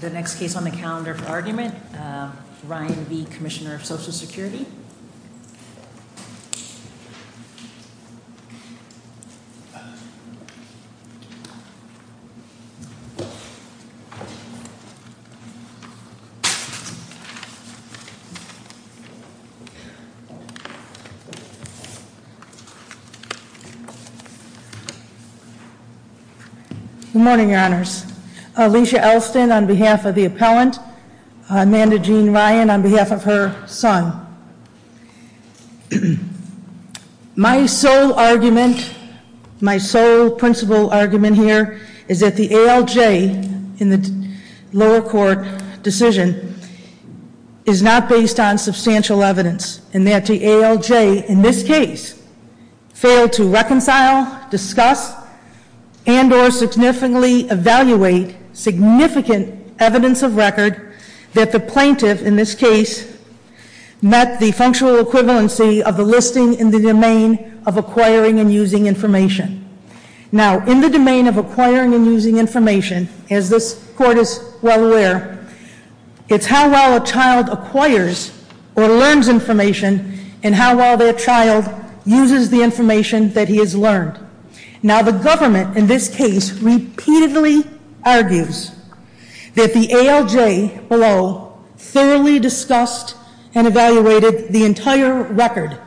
The next case on the calendar for argument, Ryan B, Commissioner of Social Security. Ryan on behalf of her son. My sole argument, my sole principal argument here is that the ALJ in the lower court decision is not based on substantial evidence and that the ALJ in this case failed to reconcile, discuss, and or significantly evaluate significant evidence of record that the plaintiff in this case met the functional equivalency of the listing in the domain of acquiring and using information. Now in the domain of acquiring and using information, as this court is well aware, it's how well a child acquires or learns information and how well their child uses the information that he has repeatedly argues that the ALJ below thoroughly discussed and evaluated the entire record,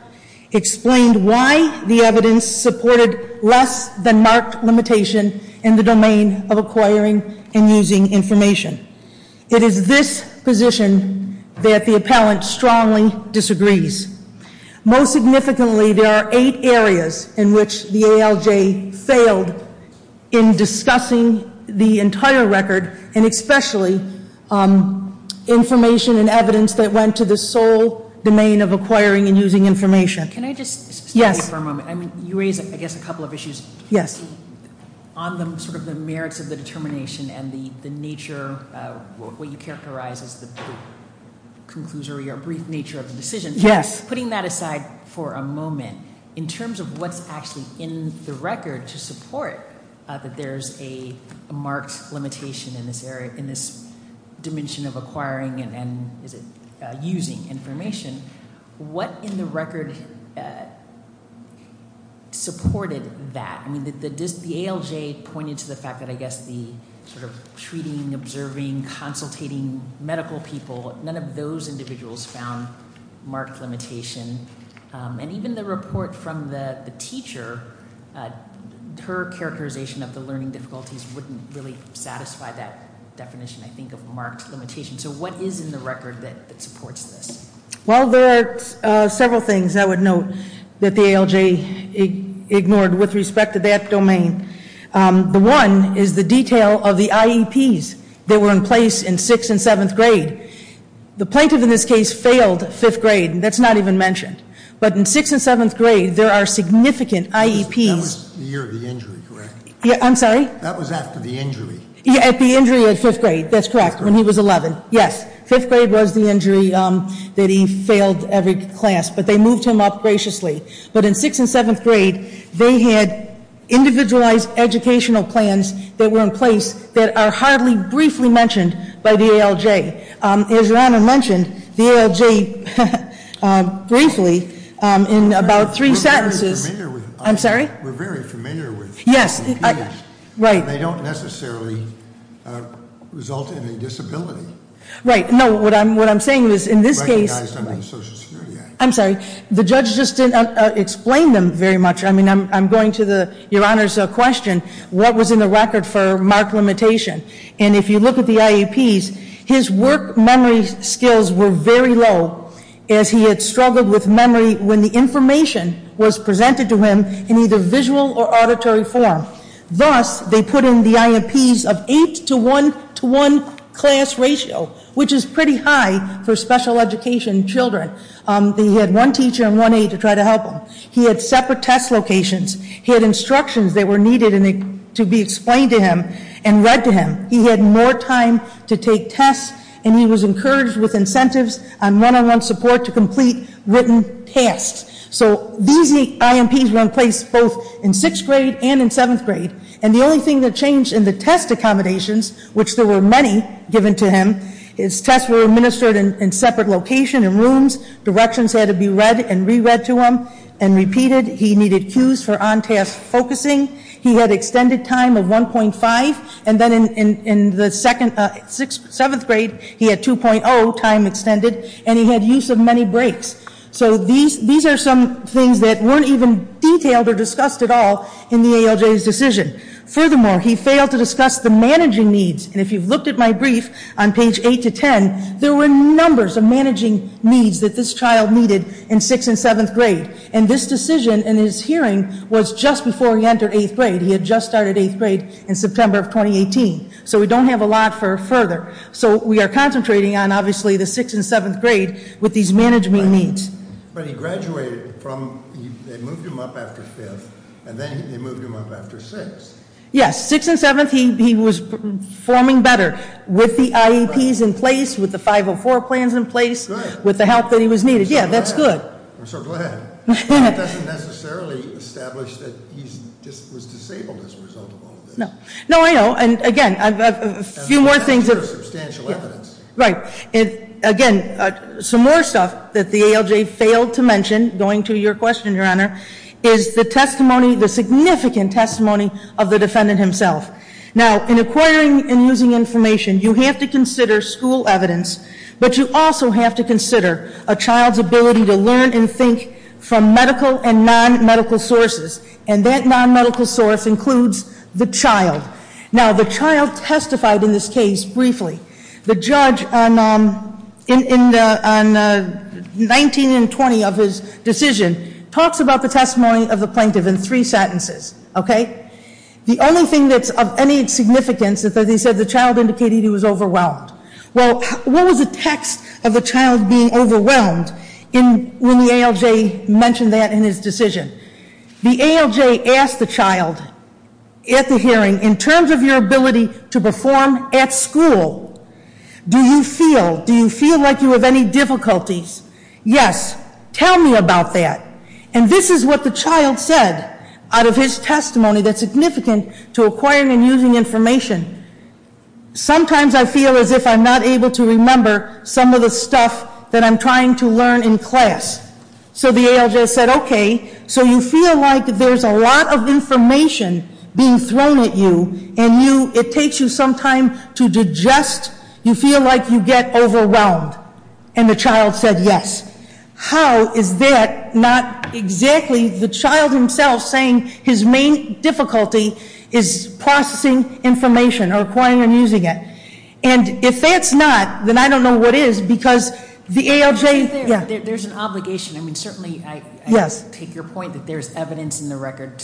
explained why the evidence supported less than marked limitation in the domain of acquiring and using information. It is this position that the appellant strongly disagrees. Most significantly there are eight areas in which the ALJ failed in discussing the entire record and especially information and evidence that went to the sole domain of acquiring and using information. Can I just stay here for a moment? Yes. I mean, you raise I guess a couple of issues. Yes. On the sort of the merits of the determination and the nature, what you characterize as the conclusory or brief nature of the decision. Yes. Putting that aside for a moment, in the record to support that there's a marked limitation in this area, in this dimension of acquiring and using information, what in the record supported that? I mean, the ALJ pointed to the fact that I guess the sort of treating, observing, consultating medical people, none of those her characterization of the learning difficulties wouldn't really satisfy that definition I think of marked limitation. So what is in the record that supports this? Well, there are several things I would note that the ALJ ignored with respect to that domain. The one is the detail of the IEPs that were in place in sixth and seventh grade. The plaintiff in this case failed fifth grade and that's not even mentioned. But in sixth and seventh grade there are significant IEPs. That was the year of the injury, correct? Yeah, I'm sorry? That was after the injury. Yeah, at the injury at fifth grade. That's correct. When he was 11. Yes. Fifth grade was the injury that he failed every class. But they moved him up graciously. But in sixth and seventh grade, they had individualized educational plans that were in place that are hardly briefly mentioned by the ALJ. As Your Honor mentioned, the ALJ briefly, in about three sentences, I'm sorry? We're very familiar with IEPs. Yes, right. They don't necessarily result in a disability. Right, no, what I'm saying is in this case, I'm sorry, the judge just didn't explain them very much. I mean, I'm going to Your Honor's question, what was in the record for marked limitation? And if you look at the IEPs, his work memory skills were very low as he had struggled with memory when the information was presented to him in either visual or auditory form. Thus, they put in the IEPs of 8 to 1 to 1 class ratio, which is pretty high for special education children. They had one teacher and one aide to try to help him. He had separate test locations. He had instructions that were needed to be explained to him and read to him. He had more time to take tests and he was encouraged with incentives and one-on-one support to complete written tests. So these IEPs were in place both in 6th grade and in 7th grade. And the only thing that changed in the test accommodations, which there were many given to him, his tests were administered in separate locations and rooms. Directions had to be read and re-read to him and repeated. He needed cues for on-task focusing. He had extended time of 1.5 and then in the 7th grade, he had 2.0 time extended and he had use of many breaks. So these are some things that weren't even detailed or discussed at all in the ALJ's decision. Furthermore, he failed to discuss the managing needs. And if you've looked at my brief on page 8 to 10, there were numbers of managing needs that this child needed in 6th and 7th grade. And this decision in his hearing was just before he entered 8th grade. He had just started 8th grade in September of 2018. So we don't have a lot further. So we are concentrating on, obviously, the 6th and 7th grade with these management needs. But he graduated from, they moved him up after 5th, and then they moved him up after 6th. Yes, 6th and 7th, he was performing better with the IEPs in place, with the 504 plans in place, with the help that he was needed. Yeah, that's good. I'm so glad. That doesn't necessarily establish that he just was disabled as a result of all of this. No, I know, and again, a few more things. That's substantial evidence. Right, and again, some more stuff that the ALJ failed to mention, going to your question, Your Honor, is the testimony, the significant testimony of the defendant himself. Now, in acquiring and using information, you have to consider school evidence, but you also have to consider a child's ability to learn and think from medical and non-medical sources. And that non-medical source includes the child. Now, the child testified in this case briefly. The judge in 19 and 20 of his decision talks about the testimony of the plaintiff in three sentences, okay? The only thing that's of any significance is that he said the child indicated he was overwhelmed. Well, what was the text of the child being overwhelmed when the ALJ mentioned that in his decision? The ALJ asked the child at the hearing, in terms of your ability to perform at school, do you feel like you have any difficulties? Yes, tell me about that. And this is what the child said out of his testimony that's significant to acquiring and using information. Sometimes I feel as if I'm not able to remember some of the stuff that I'm trying to learn in class. So the ALJ said, okay, so you feel like there's a lot of information being thrown at you, and it takes you some time to digest, you feel like you get overwhelmed. And the child said yes. How is that not exactly the child himself saying his main difficulty is processing information, or acquiring and using it? And if that's not, then I don't know what is, because the ALJ- There's an obligation, I mean, certainly, I take your point that there's evidence in the record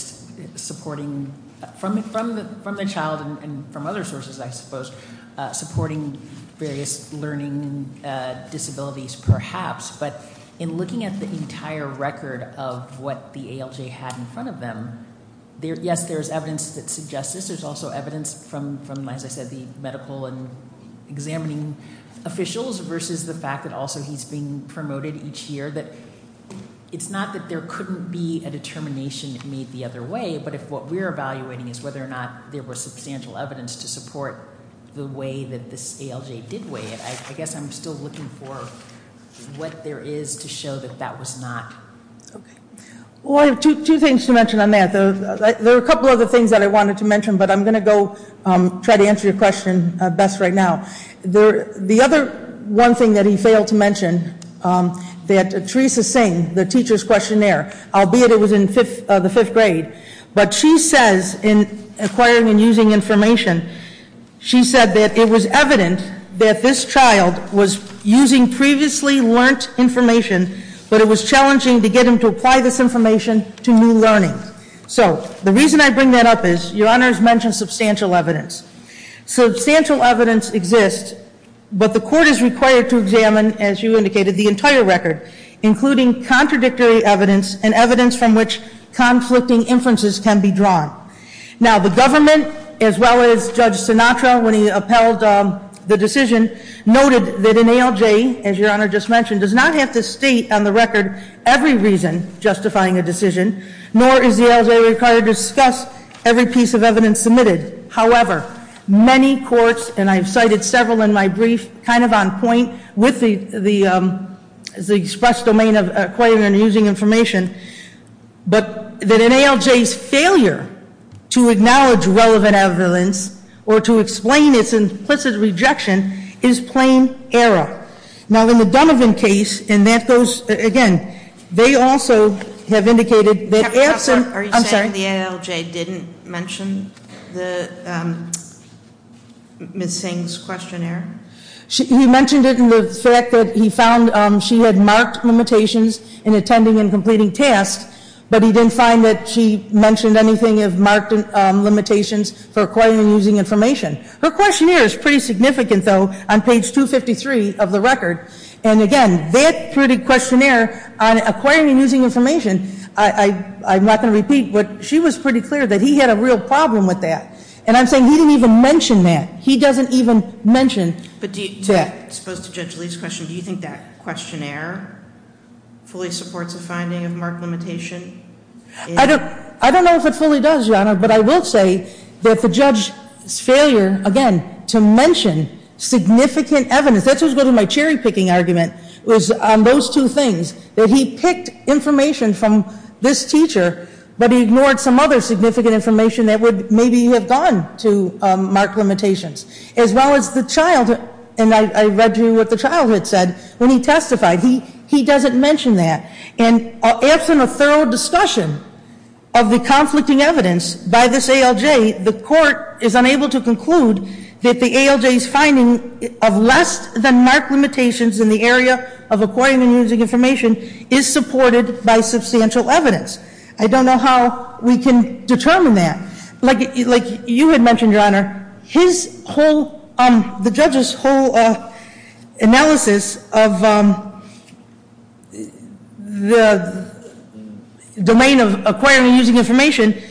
supporting, from the child and from other sources, I suppose, supporting various learning disabilities, perhaps. But in looking at the entire record of what the ALJ had in front of them, yes, there's evidence that suggests this, there's also evidence from, as I said, the medical and each year, that it's not that there couldn't be a determination made the other way, but if what we're evaluating is whether or not there was substantial evidence to support the way that this ALJ did weigh it. I guess I'm still looking for what there is to show that that was not. Okay. Well, I have two things to mention on that. There are a couple other things that I wanted to mention, but I'm going to go try to answer your question best right now. The other one thing that he failed to mention, that Teresa Singh, the teacher's questionnaire, albeit it was in the fifth grade, but she says in acquiring and using information, she said that it was evident that this child was using previously learnt information, but it was challenging to get him to apply this information to new learning. So, the reason I bring that up is, your honors mentioned substantial evidence. Substantial evidence exists, but the court is required to examine, as you indicated, the entire record, including contradictory evidence and evidence from which conflicting inferences can be drawn. Now, the government, as well as Judge Sinatra, when he upheld the decision, noted that an ALJ, as your honor just mentioned, does not have to state on the record every reason justifying a decision, nor is the ALJ required to discuss every piece of evidence submitted. However, many courts, and I've cited several in my brief, kind of on point with the express domain of acquiring and using information. But that an ALJ's failure to acknowledge relevant evidence or to explain its implicit rejection is plain error. Now, in the Dunovan case, and that goes, again, they also have indicated that- I'm sorry. Are you saying the ALJ didn't mention Ms. Singh's questionnaire? He mentioned it in the fact that he found she had marked limitations in attending and completing tasks. But he didn't find that she mentioned anything of marked limitations for acquiring and using information. Her questionnaire is pretty significant, though, on page 253 of the record. And again, that pretty questionnaire on acquiring and using information, I'm not going to repeat, but she was pretty clear that he had a real problem with that. And I'm saying he didn't even mention that. He doesn't even mention that. But do you, as opposed to Judge Lee's question, do you think that questionnaire fully supports a finding of marked limitation? I don't know if it fully does, your honor, but I will say that the judge's failure, again, to mention significant evidence, that's what was good in my cherry picking argument, was on those two things, that he picked information from this teacher, but he ignored some other significant information that would maybe have gone to mark limitations. As well as the child, and I read you what the child had said when he testified, he doesn't mention that. And absent a thorough discussion of the conflicting evidence by this ALJ, the court is unable to conclude that the ALJ's finding of less than marked limitations in the area of acquiring and using information is supported by substantial evidence. I don't know how we can determine that. Like you had mentioned, your honor, the judge's whole analysis of the domain of acquiring and using information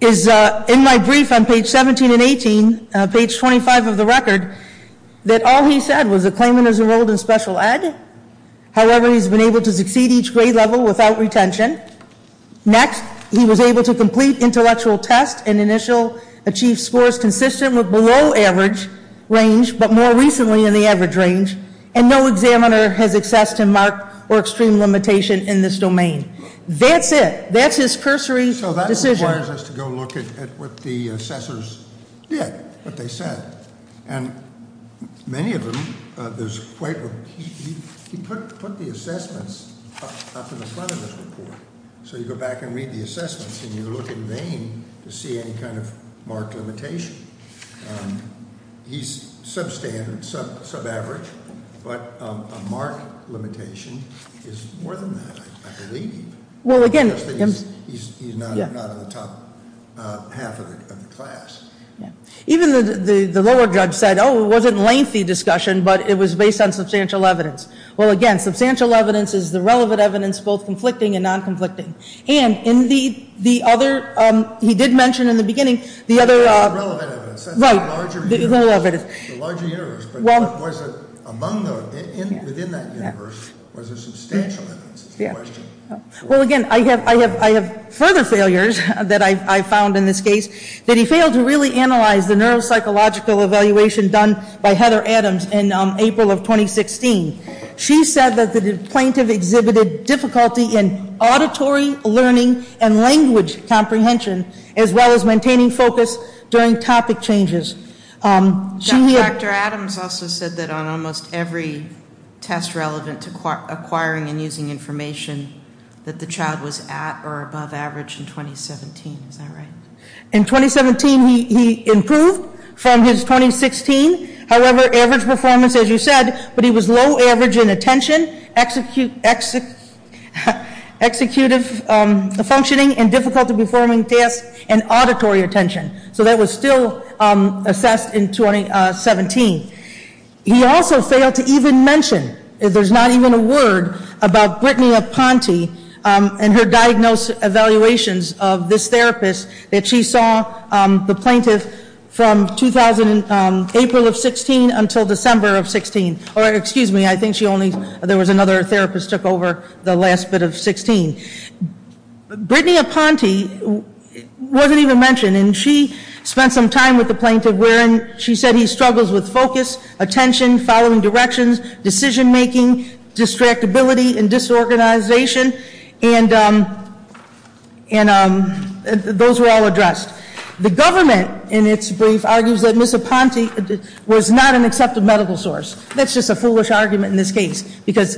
is, in my brief on page 17 and 18, page 25 of the record, that all he said was the claimant is enrolled in special ed. However, he's been able to succeed each grade level without retention. Next, he was able to complete intellectual test and initial achieve scores consistent with below average range, but more recently in the average range. And no examiner has assessed him marked or extreme limitation in this domain. That's it. That's his cursory decision. So that requires us to go look at what the assessors did, what they said. And many of them, there's quite a, he put the assessments up in the front of this report. So you go back and read the assessments and you look in vain to see any kind of marked limitation. He's substandard, sub-average, but a marked limitation is more than that, I believe. Well, again, he's not in the top half of the class. Even the lower judge said, it wasn't lengthy discussion, but it was based on substantial evidence. Well, again, substantial evidence is the relevant evidence, both conflicting and non-conflicting. And indeed, the other, he did mention in the beginning, the other- Relevant evidence, that's the larger universe. But was it among those, within that universe, was there substantial evidence is the question. Well, again, I have further failures that I found in this case, that he failed to really analyze the neuropsychological evaluation done by Heather Adams in April of 2016. She said that the plaintiff exhibited difficulty in auditory learning and language comprehension, as well as maintaining focus during topic changes. She had- Dr. Adams also said that on almost every test relevant to acquiring and using information that the child was at or above average in 2017, is that right? In 2017, he improved from his 2016. However, average performance, as you said, but he was low average in attention, executive functioning, and difficulty performing tasks, and auditory attention. So that was still assessed in 2017. He also failed to even mention, if there's not even a word, about Brittany Aponte and her diagnosed evaluations of this therapist that she saw the plaintiff from April of 16 until December of 16, or excuse me, I think she only, there was another therapist took over the last bit of 16. Brittany Aponte wasn't even mentioned, and she spent some time with the plaintiff, wherein she said he struggles with focus, attention, following directions, decision making, distractibility, and disorganization, and those were all addressed. The government, in its brief, argues that Ms. Aponte was not an accepted medical source. That's just a foolish argument in this case, because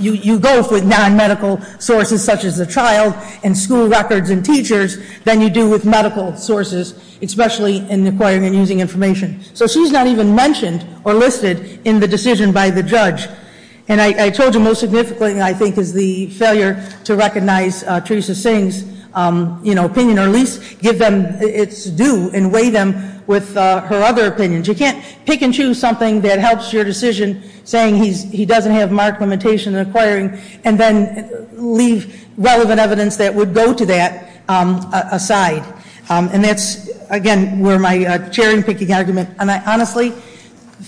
you go with non-medical sources, such as the child, and school records, and teachers, than you do with medical sources, especially in acquiring and using information. So she's not even mentioned or listed in the decision by the judge. And I told you most significantly, I think, is the failure to recognize Theresa Singh's opinion, or at least give them its due and weigh them with her other opinions. You can't pick and choose something that helps your decision, saying he doesn't have marked limitation in acquiring, and then leave relevant evidence that would go to that aside. And that's, again, where my cherry picking argument, and I honestly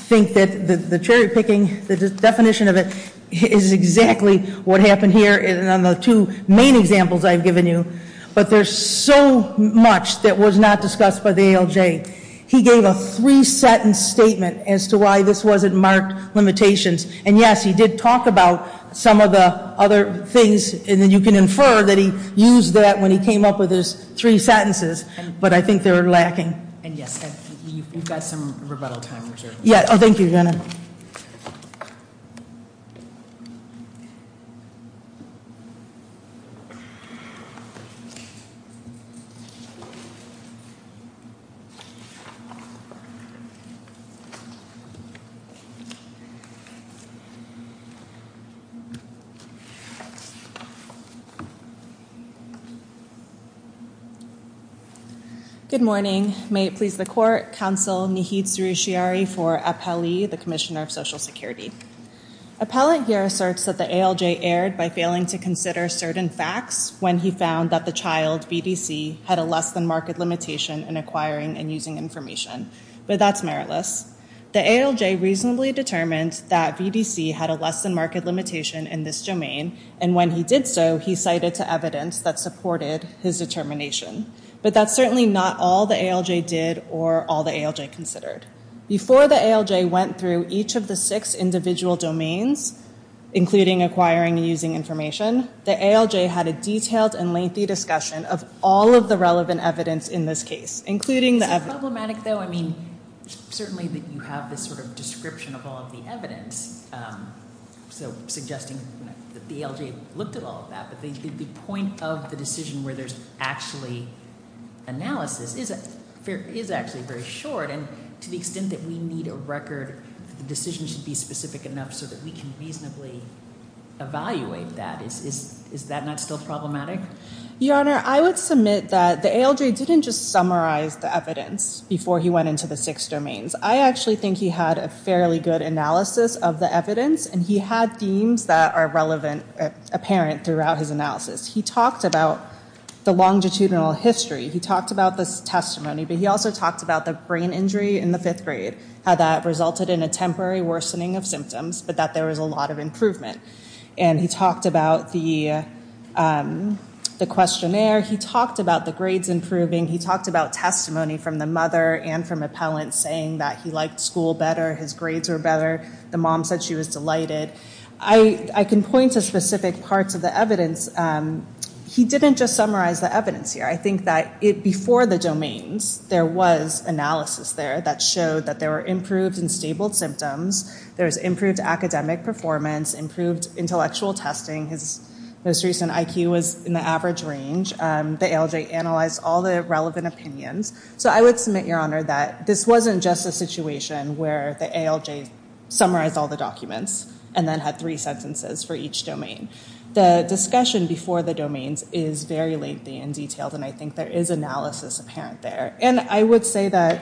think that the cherry picking, the definition of it, is exactly what happened here in the two main examples I've given you. But there's so much that was not discussed by the ALJ. He gave a three-sentence statement as to why this wasn't marked limitations. And yes, he did talk about some of the other things, and then you can infer that he used that when he came up with his three sentences, but I think they're lacking. And yes, we've got some rebuttal time reserved. Yeah, thank you, Jenna. Good morning, may it please the court, counsel Nihid Soroushiari for Appellee, the Commissioner of Social Security. Appellate here asserts that the ALJ erred by failing to consider certain facts when he found that the child, VDC, had a less than market limitation in acquiring and using information. But that's meritless. The ALJ reasonably determined that VDC had a less than market limitation in this domain, and when he did so, he cited to evidence that supported his determination. But that's certainly not all the ALJ did or all the ALJ considered. Before the ALJ went through each of the six individual domains, including acquiring and using information, there was a lengthy discussion of all of the relevant evidence in this case, including the evidence. Is it problematic though, I mean, certainly that you have this sort of description of all of the evidence. So suggesting that the ALJ looked at all of that, but the point of the decision where there's actually analysis is actually very short. And to the extent that we need a record, the decision should be specific enough so that we can reasonably evaluate that. Is that not still problematic? Your Honor, I would submit that the ALJ didn't just summarize the evidence before he went into the six domains. I actually think he had a fairly good analysis of the evidence, and he had themes that are relevant, apparent throughout his analysis. He talked about the longitudinal history. He talked about the testimony, but he also talked about the brain injury in the fifth grade, how that resulted in a temporary worsening of symptoms, but that there was a lot of improvement. And he talked about the questionnaire, he talked about the grades improving, he talked about testimony from the mother and from appellants saying that he liked school better, his grades were better, the mom said she was delighted. I can point to specific parts of the evidence, he didn't just summarize the evidence here. I think that before the domains, there was analysis there that showed that there were improved and improved intellectual testing, his most recent IQ was in the average range. The ALJ analyzed all the relevant opinions. So I would submit, Your Honor, that this wasn't just a situation where the ALJ summarized all the documents and then had three sentences for each domain. The discussion before the domains is very lengthy and detailed, and I think there is analysis apparent there. And I would say that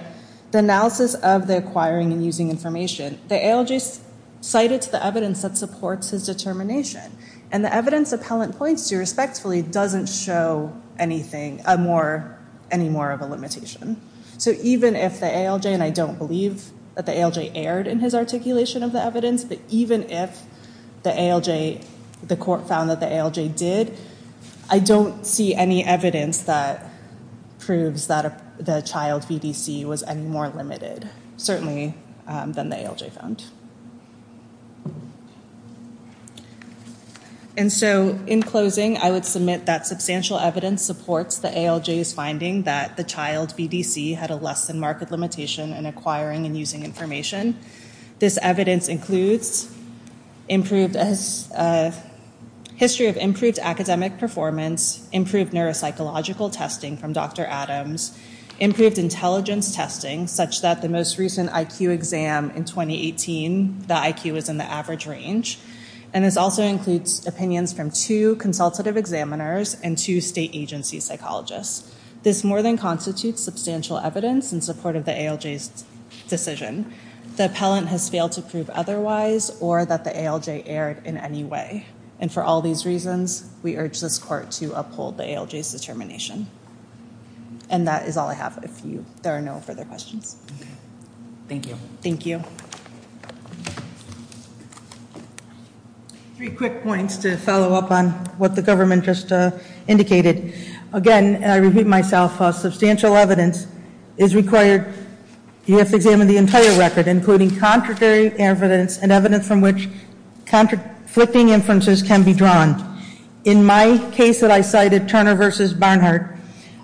the analysis of the acquiring and using information, the ALJ cited the evidence that supports his determination. And the evidence appellant points to respectfully doesn't show any more of a limitation. So even if the ALJ, and I don't believe that the ALJ erred in his articulation of the evidence, but even if the ALJ, the court found that the ALJ did, I don't see any evidence that the child BDC was any more limited, certainly than the ALJ found. And so in closing, I would submit that substantial evidence supports the ALJ's finding that the child BDC had a less than marked limitation in acquiring and using information. This evidence includes history of improved academic performance, improved neuropsychological testing from Dr. Adams, improved intelligence testing, such that the most recent IQ exam in 2018, the IQ was in the average range. And this also includes opinions from two consultative examiners and two state agency psychologists. This more than constitutes substantial evidence in support of the ALJ's decision. The appellant has failed to prove otherwise or that the ALJ erred in any way. And for all these reasons, we urge this court to uphold the ALJ's determination. And that is all I have, if there are no further questions. Okay, thank you. Thank you. Three quick points to follow up on what the government just indicated. Again, I repeat myself, substantial evidence is required. You have to examine the entire record, including contradictory evidence and differences can be drawn. In my case that I cited, Turner versus Barnhart.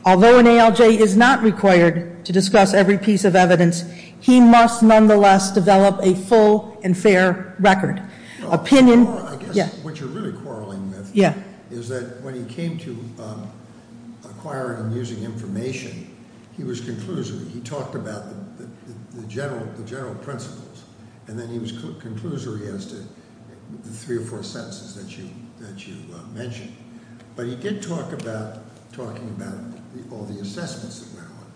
Although an ALJ is not required to discuss every piece of evidence, he must nonetheless develop a full and fair record. Opinion, yeah. What you're really quarreling with- Yeah. Is that when he came to acquiring and using information, he was conclusory. He talked about the general principles. And then he was conclusory as to the three or four sentences that you mentioned. But he did talk about, talking about all the assessments that went on.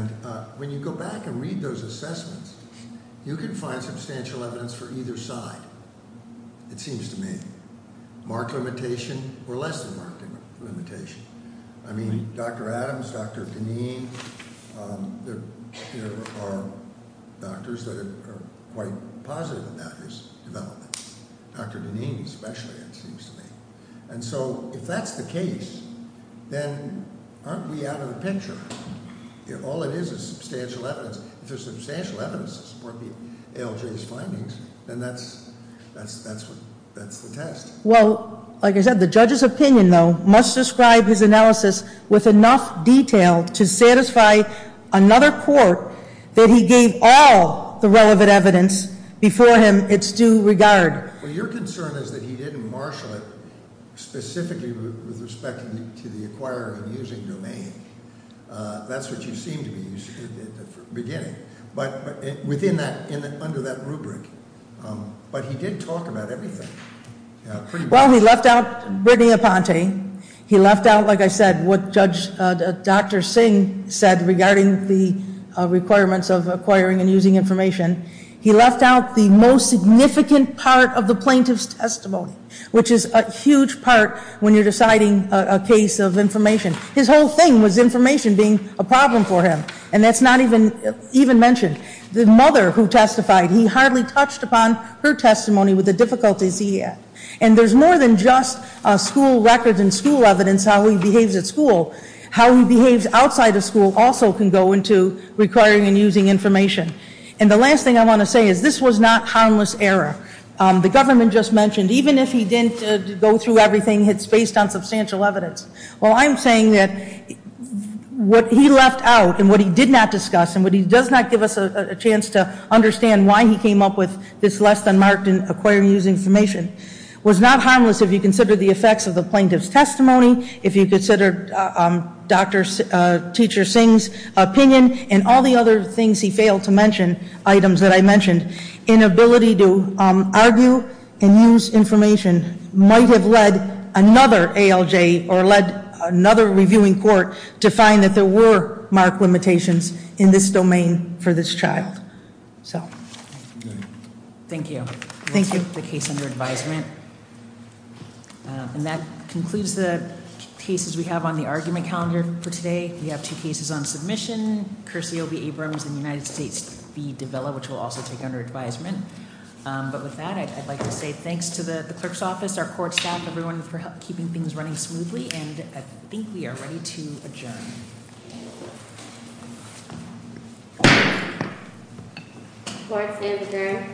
And when you go back and read those assessments, you can find substantial evidence for either side, it seems to me. Mark limitation or less than mark limitation. I mean, Dr. Adams, Dr. Dineen, there are doctors that are quite positive about his development. Dr. Dineen especially, it seems to me. And so, if that's the case, then aren't we out of the picture? All it is is substantial evidence. If there's substantial evidence to support the ALJ's findings, then that's the test. Well, like I said, the judge's opinion, though, must describe his analysis with enough detail to satisfy another court that he gave all the relevant evidence before him it's due regard. Well, your concern is that he didn't marshal it specifically with respect to the acquire and using domain. That's what you seem to be beginning, but within that, under that rubric. But he did talk about everything. Well, he left out Brittany Aponte. He left out, like I said, what Dr. Singh said regarding the requirements of acquiring and using information. He left out the most significant part of the plaintiff's testimony, which is a huge part when you're deciding a case of information. His whole thing was information being a problem for him, and that's not even mentioned. The mother who testified, he hardly touched upon her testimony with the difficulties he had. And there's more than just school records and school evidence how he behaves at school. How he behaves outside of school also can go into requiring and using information. And the last thing I want to say is this was not harmless error. The government just mentioned, even if he didn't go through everything, it's based on substantial evidence. Well, I'm saying that what he left out and what he did not discuss and what he does not give us a chance to understand why he came up with this less than marked acquire and use information. Was not harmless if you consider the effects of the plaintiff's testimony, if you consider Dr. Teacher Singh's opinion and all the other things he failed to mention, items that I mentioned. Inability to argue and use information might have led another ALJ or led another reviewing court to find that there were marked limitations in this domain for this child. Thank you. Thank you. The case under advisement. And that concludes the cases we have on the argument calendar for today. We have two cases on submission. Curse will be Abrams in the United States be developed which will also take under advisement. But with that, I'd like to say thanks to the clerk's office, our court staff, everyone for keeping things running smoothly. And I think we are ready to adjourn. Court is adjourned. Thank you.